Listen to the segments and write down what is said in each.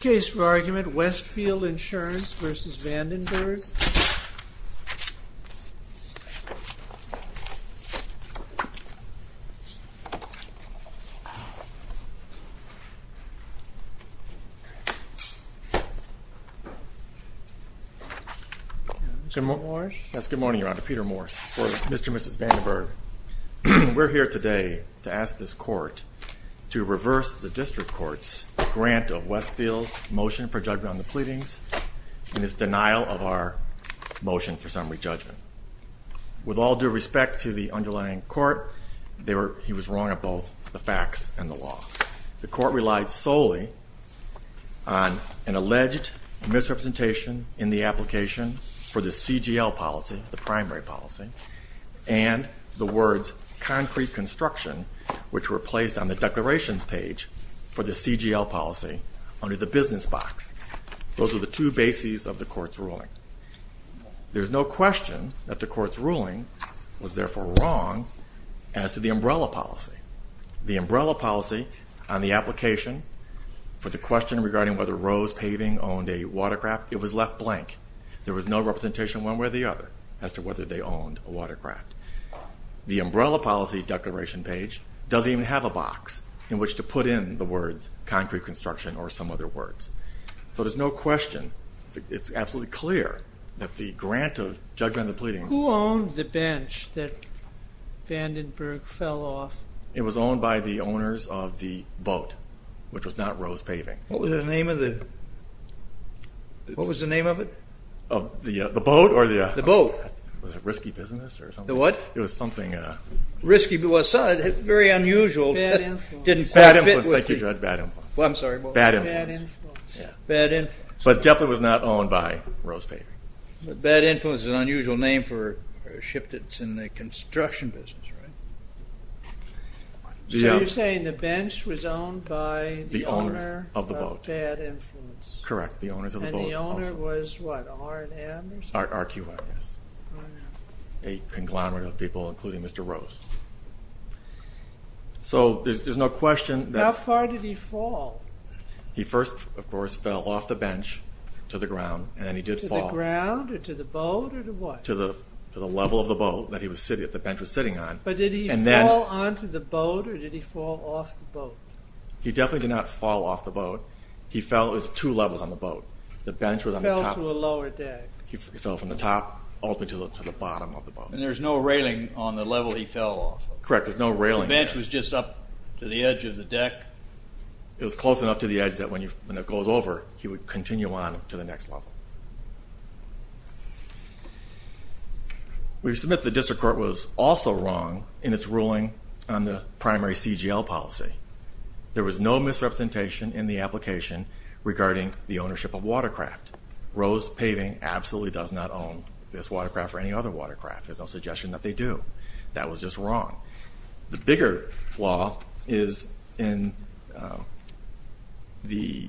Case for argument, Westfield Insurance v. Vandenberg. Good morning, Your Honor. Peter Morse for Mr. and Mrs. Vandenberg. We're here today to ask this court to reverse the district court's grant of Westfield's motion for judgment on the pleadings and its denial of our motion for summary judgment. With all due respect to the underlying court, he was wrong on both the facts and the law. The court relied solely on an alleged misrepresentation in the application for the CGL policy, the words concrete construction, which were placed on the declarations page for the CGL policy under the business box. Those were the two bases of the court's ruling. There's no question that the court's ruling was therefore wrong as to the umbrella policy. The umbrella policy on the application for the question regarding whether Rose Paving owned a watercraft, it was left blank. There was no representation one way or the other as to whether they owned a watercraft. The umbrella policy declaration page doesn't even have a box in which to put in the words concrete construction or some other words. So there's no question, it's absolutely clear that the grant of judgment on the pleadings... Who owned the bench that Vandenberg fell off? It was owned by the owners of the boat, which was not Rose Paving. What was the name of it? What was the name of it? The boat? Was it Risky Business or something? It was something... Very unusual. Bad Influence. Thank you Judge, Bad Influence. But it definitely was not owned by Rose Paving. Bad Influence is an unusual name for a ship that's in the construction business, right? So you're saying the bench was owned by the owner of Bad Influence. Correct, the owners of the boat. And the owner was what, R&M? RQI, yes. A conglomerate of people, including Mr. Rose. So there's no question that... How far did he fall? He first, of course, fell off the bench to the ground and then he did fall... To the ground or to the boat or to what? To the level of the boat that the bench was sitting on. But did he fall onto the boat or did he fall off the boat? He definitely did not fall off the boat. He fell, it was two levels on the boat. He fell to a lower deck. He fell from the top all the way to the bottom of the boat. And there's no railing on the level he fell off of? Correct, there's no railing there. The bench was just up to the edge of the deck? It was close enough to the edge that when it goes over, he would continue on to the next level. We submit the district court was also wrong in its ruling on the primary CGL policy. There was no misrepresentation in the application regarding the ownership of watercraft. Rose Paving absolutely does not own this watercraft or any other watercraft. There's no suggestion that they do. That was just wrong. The bigger flaw is in the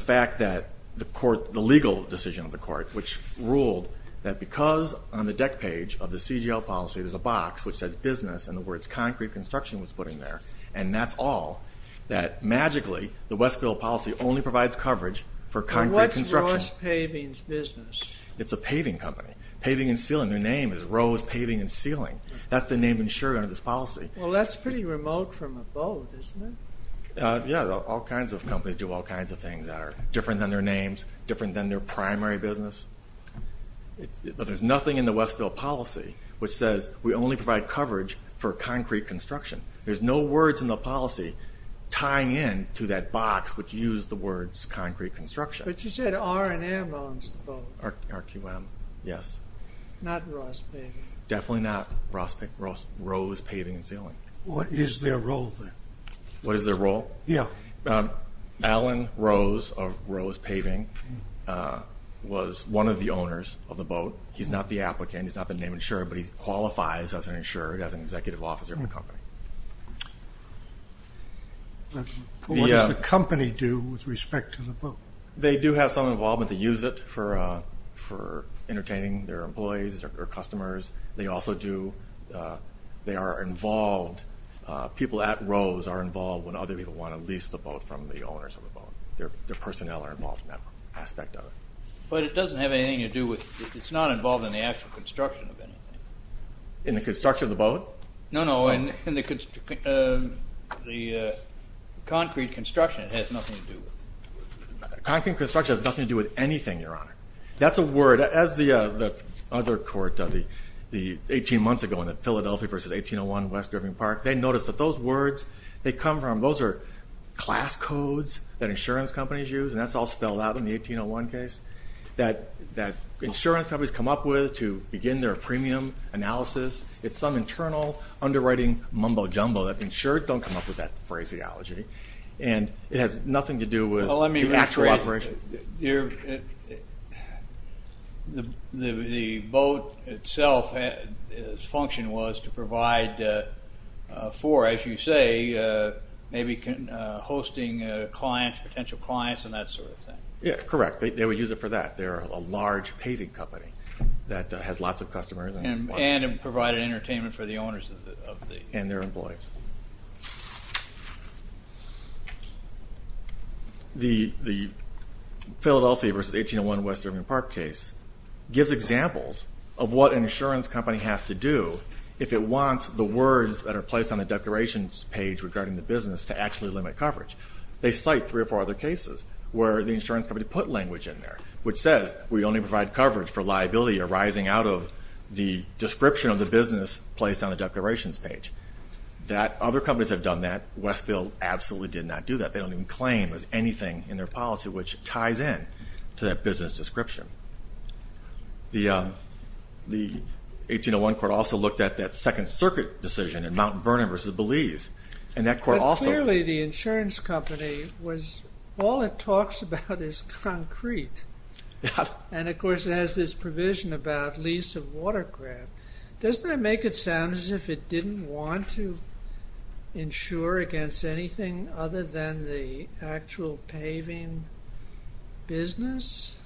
fact that the legal decision of the court, which ruled that because on the deck page of the CGL policy there's a box which says business and the words concrete construction was put in there, and that's all, that magically the Westfield policy only provides coverage for concrete construction. What's Rose Paving's business? It's a paving company. Paving and Sealing, their name is Rose Paving and Sealing. That's the name insured under this policy. Well, that's pretty remote from a boat, isn't it? Yeah, all kinds of companies do all kinds of things that are different than their names, different than their primary business. But there's nothing in the Westfield policy which says we only provide coverage for concrete construction. There's no words in the policy tying in to that box which used the words concrete construction. But you said R&M owns the boat. RQM, yes. Not Rose Paving. Definitely not Rose Paving and Sealing. What is their role then? What is their role? Yeah. Alan Rose of Rose Paving was one of the owners of the boat. He's not the applicant. He's not the name insured, but he qualifies as an insured, as an executive officer of the company. What does the company do with respect to the boat? They do have some involvement. They use it for entertaining their employees or customers. They also do, they are involved, people at Rose are involved when other people want to lease the boat from the owners of the boat. Their personnel are involved in that aspect of it. But it doesn't have anything to do with, it's not involved in the actual construction of anything. In the construction of the boat? No, no. In the concrete construction, it has nothing to do with. Concrete construction has nothing to do with anything, Your Honor. That's a word. As the other court, 18 months ago in the Philadelphia v. 1801, West Driven Park, they noticed that those words, they come from, those are class codes that insurance companies use, and that's all spelled out in the 1801 case, that insurance companies come up with to begin their premium analysis. It's some internal underwriting mumbo-jumbo that the insured don't come up with that phraseology. And it has nothing to do with the actual operation. Well, let me reiterate, the boat itself's function was to provide for, as you say, maybe hosting potential clients and that sort of thing. Yeah, correct. They would use it for that. They're a large paving company that has lots of customers. And provide entertainment for the owners. And their employees. The Philadelphia v. 1801 West Driven Park case gives examples of what an insurance company has to do if it wants the words that are placed on the declarations page regarding the business to actually limit coverage. They cite three or four other cases where the insurance company put language in there, which says we only provide coverage for liability arising out of the description of the business placed on the declarations page. Other companies have done that. Westfield absolutely did not do that. They don't even claim there's anything in their policy which ties in to that business description. The 1801 court also looked at that Second Circuit decision in Mount Vernon v. Belize. But clearly the insurance company, all it talks about is concrete. And of course it has this provision about lease of watercraft. Doesn't that make it sound as if it didn't want to insure against anything other than the actual paving business?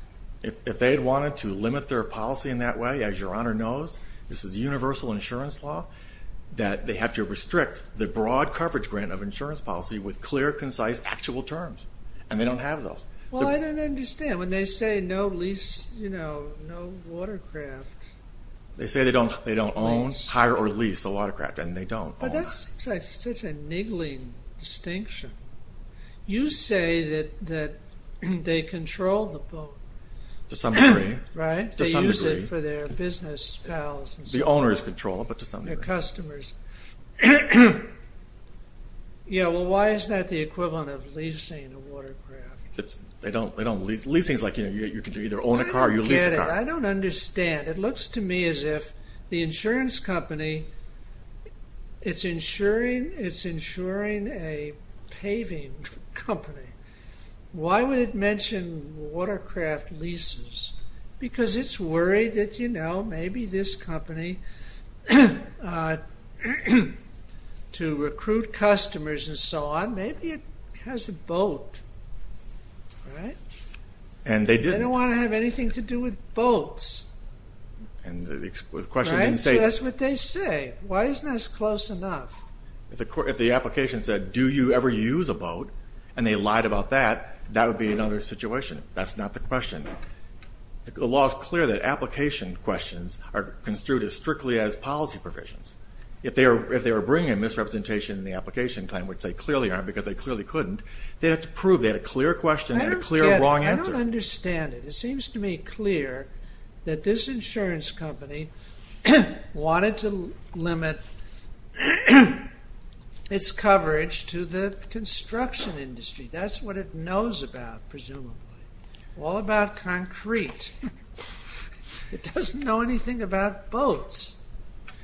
If they had wanted to limit their policy in that way, as your Honor knows, this is universal insurance law, that they have to restrict the broad coverage grant of insurance policy with clear, concise, actual terms. And they don't have those. Well, I don't understand. When they say no lease, you know, no watercraft. They say they don't own, hire, or lease a watercraft. And they don't own. That's such a niggling distinction. You say that they control the boat. To some degree. Right? They use it for their business pals. The owners control it, but to some degree. Their customers. Yeah, well, why is that the equivalent of leasing a watercraft? They don't lease. Leasing is like, you know, you can either own a car or you lease a car. I don't get it. I don't understand. It looks to me as if the insurance company, it's insuring a paving company. Why would it mention watercraft leases? Because it's worried that, you know, maybe this company, to recruit customers and so on, maybe it has a boat. And they didn't. They don't want to have anything to do with boats. Right? So that's what they say. Why isn't this close enough? If the application said, do you ever use a boat, and they lied about that, that would be another situation. That's not the question. The law is clear that application questions are construed as strictly as policy provisions. If they were bringing a misrepresentation in the application claim, which they clearly aren't because they clearly couldn't, they'd have to prove they had a clear question and a clear wrong answer. I don't get it. I don't understand it. It seems to me clear that this insurance company wanted to limit its coverage to the construction industry. That's what it knows about, presumably. All about concrete. It doesn't know anything about boats.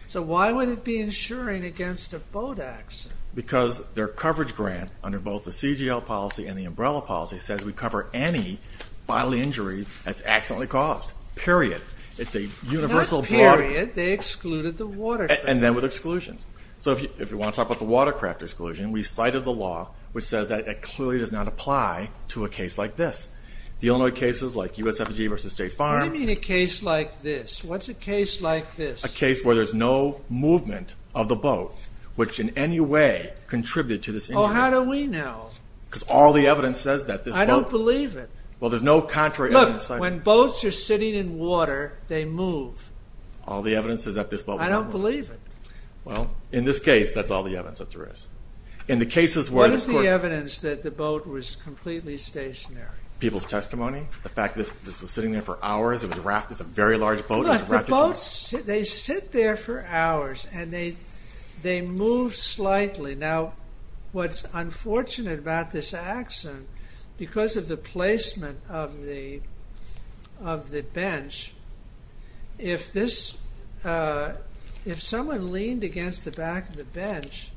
So why would it be insuring against a boat accident? Because their coverage grant, under both the CGL policy and the umbrella policy, says we cover any bodily injury that's accidentally caused, period. It's a universal block. Not period. They excluded the watercraft. And then with exclusions. So if you want to talk about the watercraft exclusion, we cited the law which says that it clearly does not apply to a case like this. The Illinois cases like USFG versus State Farm. What do you mean a case like this? What's a case like this? A case where there's no movement of the boat, which in any way contributed to this injury. Oh, how do we know? Because all the evidence says that this boat. I don't believe it. Well, there's no contrary evidence. Look, when boats are sitting in water, they move. All the evidence says that this boat was not moving. I don't believe it. Well, in this case, that's all the evidence that there is. What is the evidence that the boat was completely stationary? People's testimony. The fact that this was sitting there for hours. It was a very large boat. Look, the boats, they sit there for hours. And they move slightly. Now, what's unfortunate about this accident, because of the placement of the bench, if someone leaned against the back of the bench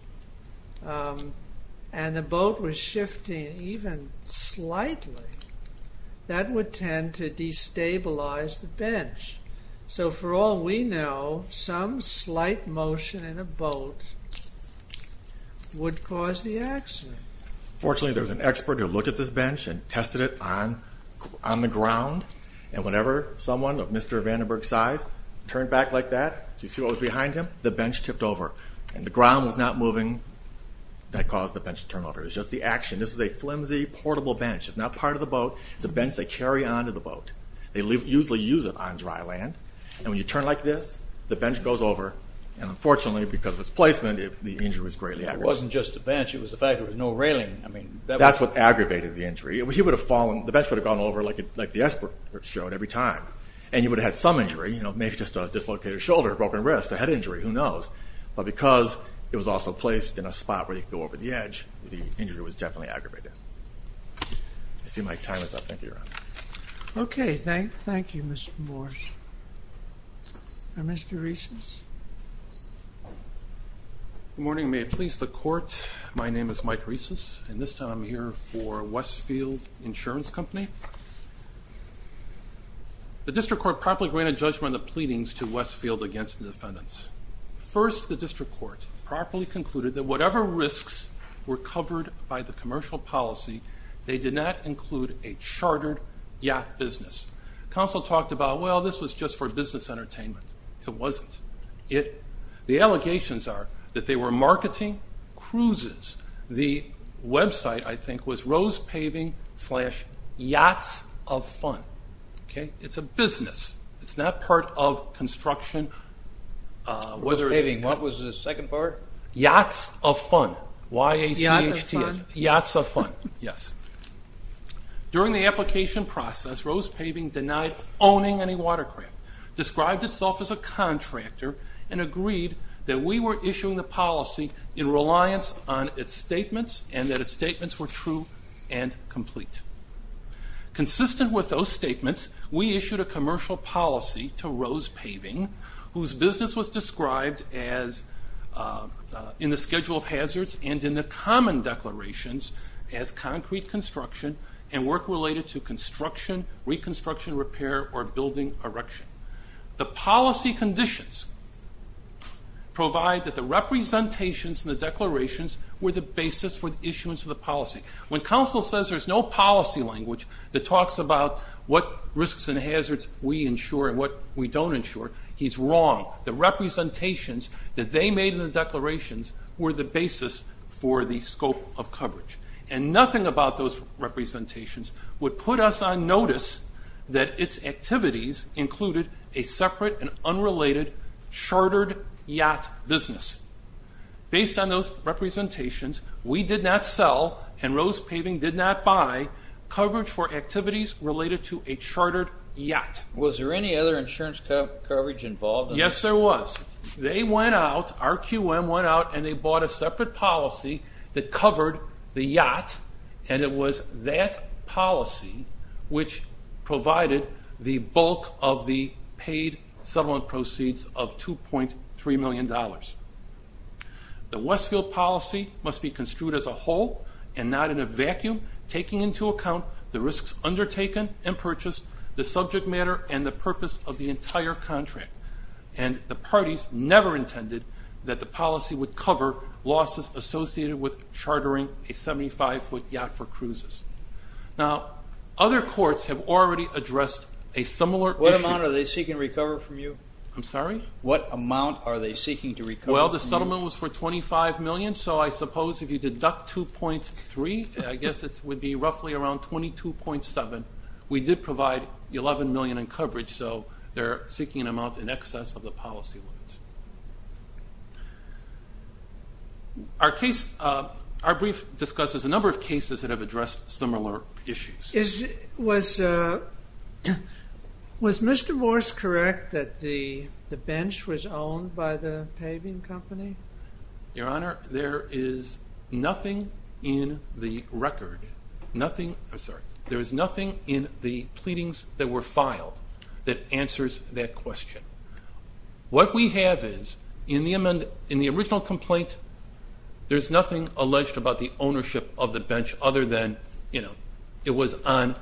and the boat was shifting even slightly, that would tend to destabilize the bench. So for all we know, some slight motion in a boat would cause the accident. Fortunately, there was an expert who looked at this bench and tested it on the ground. And whenever someone of Mr. Vandenberg's size turned back like that, do you see what was behind him? The bench tipped over. And the ground was not moving. That caused the bench to turn over. It was just the action. This is a flimsy, portable bench. It's not part of the boat. It's a bench they carry on to the boat. They usually use it on dry land. And when you turn like this, the bench goes over. And unfortunately, because of its placement, the injury was greatly aggravated. It wasn't just the bench. It was the fact there was no railing. That's what aggravated the injury. He would have fallen. The bench would have gone over like the expert showed every time. And he would have had some injury, maybe just a dislocated shoulder, broken wrist, a head injury. Who knows? But because it was also placed in a spot where he could go over the edge, the injury was definitely aggravated. I see my time is up. Thank you, Your Honor. OK. Thank you, Mr. Morris. Mr. Reeses? Good morning. May it please the Court, my name is Mike Reeses. And this time, I'm here for Westfield Insurance Company. The district court promptly granted judgment on the pleadings to Westfield against the defendants. First, the district court properly concluded that whatever risks were covered by the commercial policy, they did not include a chartered yacht business. Counsel talked about, well, this was just for business entertainment. It wasn't. The allegations are that they were marketing cruises. The website, I think, was Rose Paving slash Yachts of Fun. OK? It's a business. It's not part of construction. What was the second part? Yachts of Fun. Y-A-C-H-T-S. Yachts of Fun. Yachts of Fun, yes. During the application process, Rose Paving denied owning any watercraft, described itself as a contractor, and agreed that we were issuing the policy in reliance on its statements and that its statements were true and complete. Consistent with those statements, we issued a commercial policy to Rose Paving, whose business was described in the schedule of hazards and in the common declarations as concrete construction and work related to construction, reconstruction, repair, or building erection. The policy conditions provide that the representations and the declarations were the basis for the issuance of the policy. When counsel says there's no policy language that talks about what risks and hazards we insure and what we don't insure, he's wrong. The representations that they made in the declarations were the basis for the scope of coverage. And nothing about those representations would put us on notice that its activities included a separate and unrelated chartered yacht business. Based on those representations, we did not sell and Rose Paving did not buy coverage for activities related to a chartered yacht. Was there any other insurance coverage involved? Yes, there was. They went out, RQM went out, and they bought a separate policy that covered the yacht, and it was that policy which provided the bulk of the paid settlement proceeds of $2.3 million. The Westfield policy must be construed as a whole and not in a vacuum, taking into account the risks undertaken and purchased, the subject matter, and the purpose of the entire contract. And the parties never intended that the policy would cover losses associated with chartering a 75-foot yacht for cruises. Now, other courts have already addressed a similar issue. What amount are they seeking to recover from you? I'm sorry? What amount are they seeking to recover from you? Well, the settlement was for $25 million, so I suppose if you deduct $2.3, I guess it would be roughly around $22.7. We did provide $11 million in coverage, so they're seeking an amount in excess of the policy. Our brief discusses a number of cases that have addressed similar issues. Was Mr. Morse correct that the bench was owned by the paving company? Your Honor, there is nothing in the record, nothing in the pleadings that were filed that answers that question. What we have is, in the original complaint, there's nothing alleged about the ownership of the bench other than, you know, it was on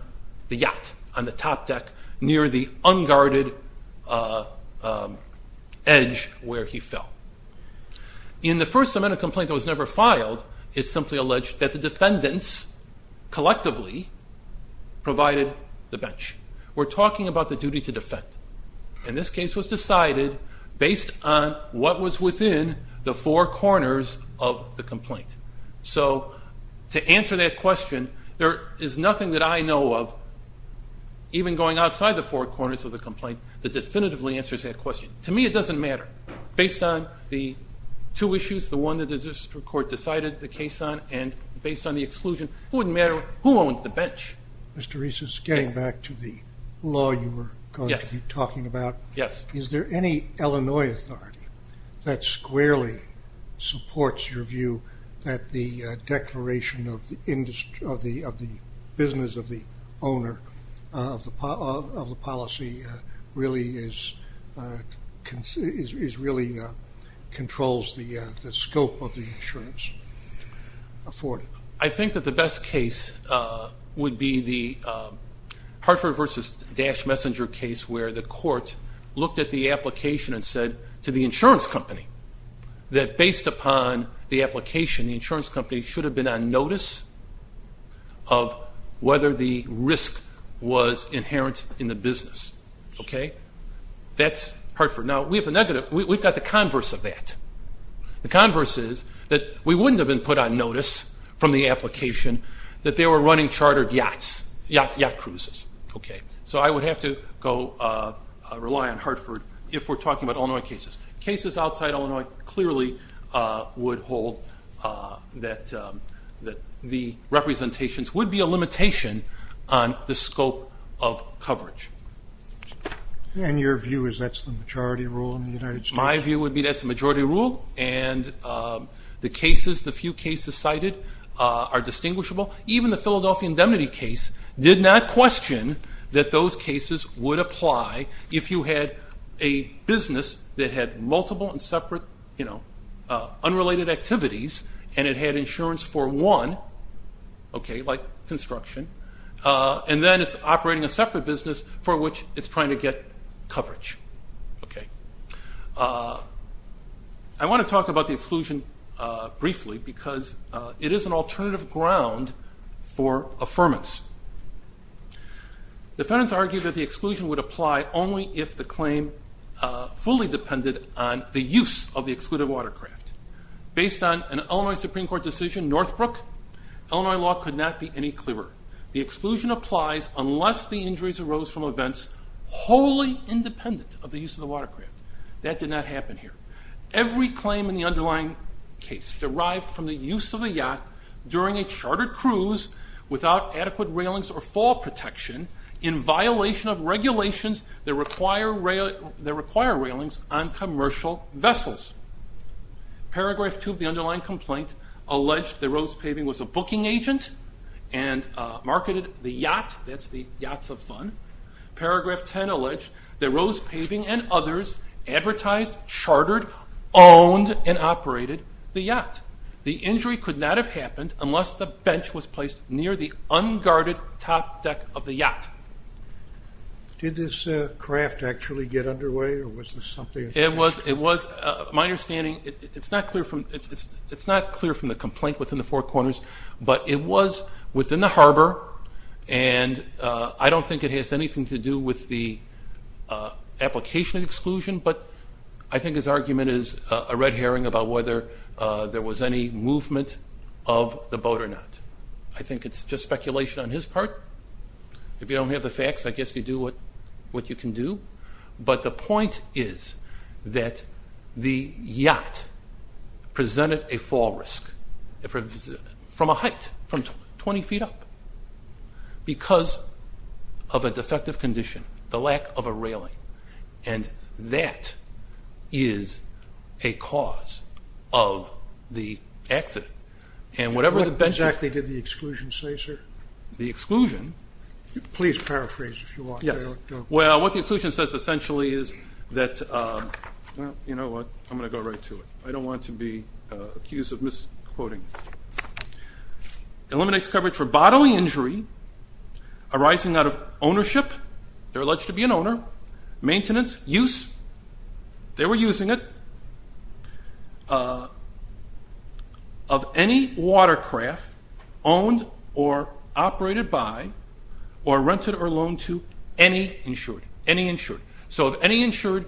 the yacht, on the top deck, near the unguarded edge where he fell. In the first amendment complaint that was never filed, it's simply alleged that the defendants collectively provided the bench. We're talking about the duty to defend. And this case was decided based on what was within the four corners of the complaint. So, to answer that question, there is nothing that I know of, even going outside the four corners of the complaint, that definitively answers that question. To me, it doesn't matter. Based on the two issues, the one that the district court decided the case on, and based on the exclusion, it wouldn't matter who owned the bench. Mr. Reese, just getting back to the law you were talking about, is there any Illinois authority that squarely supports your view that the declaration of the business of the owner of the policy really controls the scope of the insurance afforded? I think that the best case would be the Hartford v. Dash Messenger case where the court looked at the application and said, to the insurance company, that based upon the application, the insurance company should have been on notice of whether the risk was inherent in the business. That's Hartford. Now, we've got the converse of that. The converse is that we wouldn't have been put on notice from the application that they were running chartered yachts, yacht cruises. So I would have to rely on Hartford if we're talking about Illinois cases. Cases outside Illinois clearly would hold that the representations would be a limitation on the scope of coverage. And your view is that's the majority rule in the United States? My view would be that's the majority rule, and the few cases cited are distinguishable. Even the Philadelphia indemnity case did not question that those cases would apply if you had a business that had multiple and separate unrelated activities, and it had insurance for one, like construction, and then it's operating a separate business for which it's trying to get coverage. I want to talk about the exclusion briefly because it is an alternative ground for affirmance. Defendants argue that the exclusion would apply only if the claim fully depended on the use of the excluded watercraft. Based on an Illinois Supreme Court decision, Northbrook, Illinois law could not be any clearer. The exclusion applies unless the injuries arose from events wholly independent of the use of the watercraft. That did not happen here. derived from the use of a yacht during a chartered cruise without adequate railings or fall protection in violation of regulations that require railings on commercial vessels. Paragraph 2 of the underlying complaint alleged that Rose Paving was a booking agent and marketed the yacht. That's the yachts of fun. Paragraph 10 alleged that Rose Paving and others advertised, chartered, owned, and operated the yacht. The injury could not have happened unless the bench was placed near the unguarded top deck of the yacht. Did this craft actually get underway or was this something that happened? My understanding, it's not clear from the complaint within the Four Corners, but it was within the harbor and I don't think it has anything to do with the application exclusion, but I think his argument is a red herring about whether there was any movement of the boat or not. I think it's just speculation on his part. If you don't have the facts, I guess you do what you can do. But the point is that the yacht presented a fall risk from a height, from 20 feet up because of a defective condition, the lack of a railing. And that is a cause of the accident. What exactly did the exclusion say, sir? The exclusion? Please paraphrase if you want. Well, what the exclusion says essentially is that you know what, I'm going to go right to it. I don't want to be accused of misquoting. Eliminates coverage for bodily injury, arising out of ownership, they're alleged to be an owner, maintenance, use, they were using it, of any watercraft owned or operated by or rented or loaned to any insured. So if any insured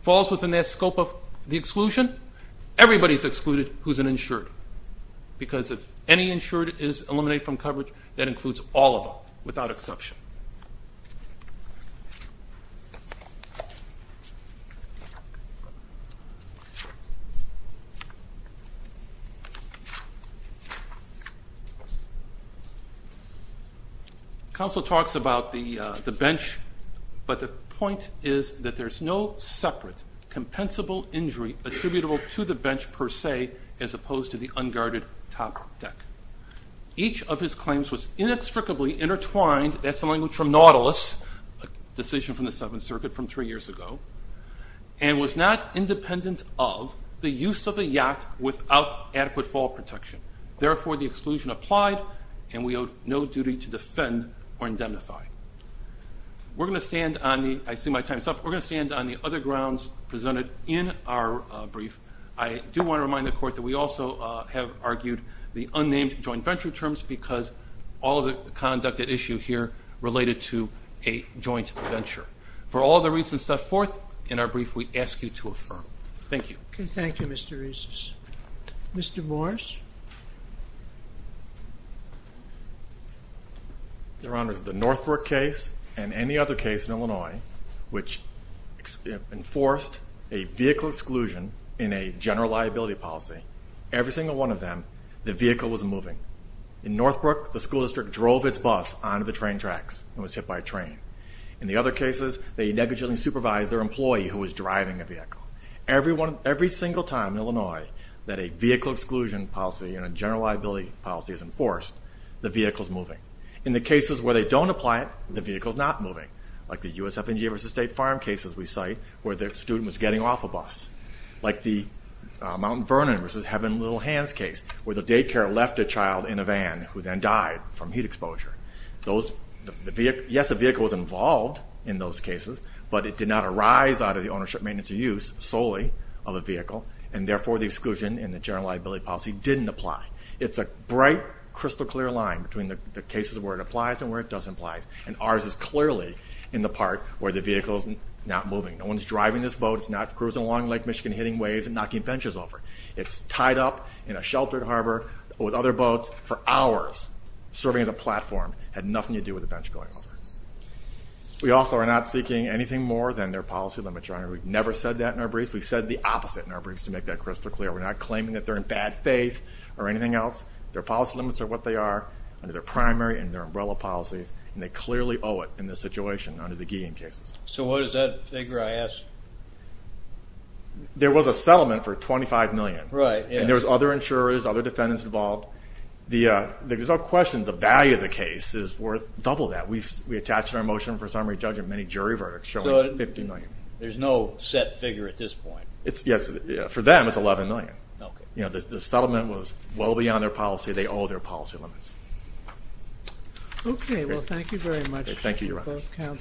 falls within that scope of the exclusion, everybody's excluded who's an insured. Because if any insured is eliminated from coverage, that includes all of them without exception. Counsel talks about the bench, but the point is that there's no separate compensable injury attributable to the bench per se as opposed to the unguarded top deck. Each of his claims was inextricably intertwined, that's the language from Nautilus, a decision from the Seventh Circuit from three years ago, and was not independent of the use of the yacht without adequate fall protection. Therefore, the exclusion applied, and we owe no duty to defend or indemnify. We're going to stand on the, I see my time's up, we're going to stand on the other grounds presented in our brief. I do want to remind the Court that we also have argued the unnamed joint venture terms because all of the conduct at issue here related to a joint venture. For all the reasons set forth in our brief, we ask you to affirm. Thank you. Okay, thank you, Mr. Reiss. Mr. Morris? Your Honor, the Northbrook case and any other case in Illinois which enforced a vehicle exclusion in a general liability policy, every single one of them, the vehicle was moving. In Northbrook, the school district drove its bus onto the train tracks and was hit by a train. In the other cases, they negligently supervised their employee who was driving a vehicle. Every single time in Illinois that a vehicle exclusion policy and a general liability policy is enforced, the vehicle's moving. In the cases where they don't apply it, the vehicle's not moving, like the USF&G v. State Farm cases we cite where the student was getting off a bus, like the Mount Vernon v. Heaven Little Hands case where the daycare left a child in a van who then died from heat exposure. Yes, a vehicle was involved in those cases, but it did not arise out of the ownership, maintenance, or use solely of a vehicle, and therefore the exclusion in the general liability policy didn't apply. It's a bright, crystal-clear line between the cases where it applies and where it doesn't apply, and ours is clearly in the part where the vehicle's not moving. No one's driving this boat, it's not cruising along Lake Michigan hitting waves and knocking benches over. It's tied up in a sheltered harbor with other boats for hours, serving as a platform, had nothing to do with the bench going over. We also are not seeking anything more than their policy limits, Your Honor. We've never said that in our briefs. We've said the opposite in our briefs to make that crystal clear. We're not claiming that they're in bad faith or anything else. Their policy limits are what they are under their primary and their umbrella policies, and they clearly owe it in this situation under the Guillain cases. So what is that figure, I ask? There was a settlement for $25 million, and there was other insurers, other defendants involved. There's no question the value of the case is worth double that. We attached our motion for summary judge in many jury verdicts showing $50 million. There's no set figure at this point. For them, it's $11 million. The settlement was well beyond their policy. They owe their policy limits. Okay, well, thank you very much. Thank you, Your Honor.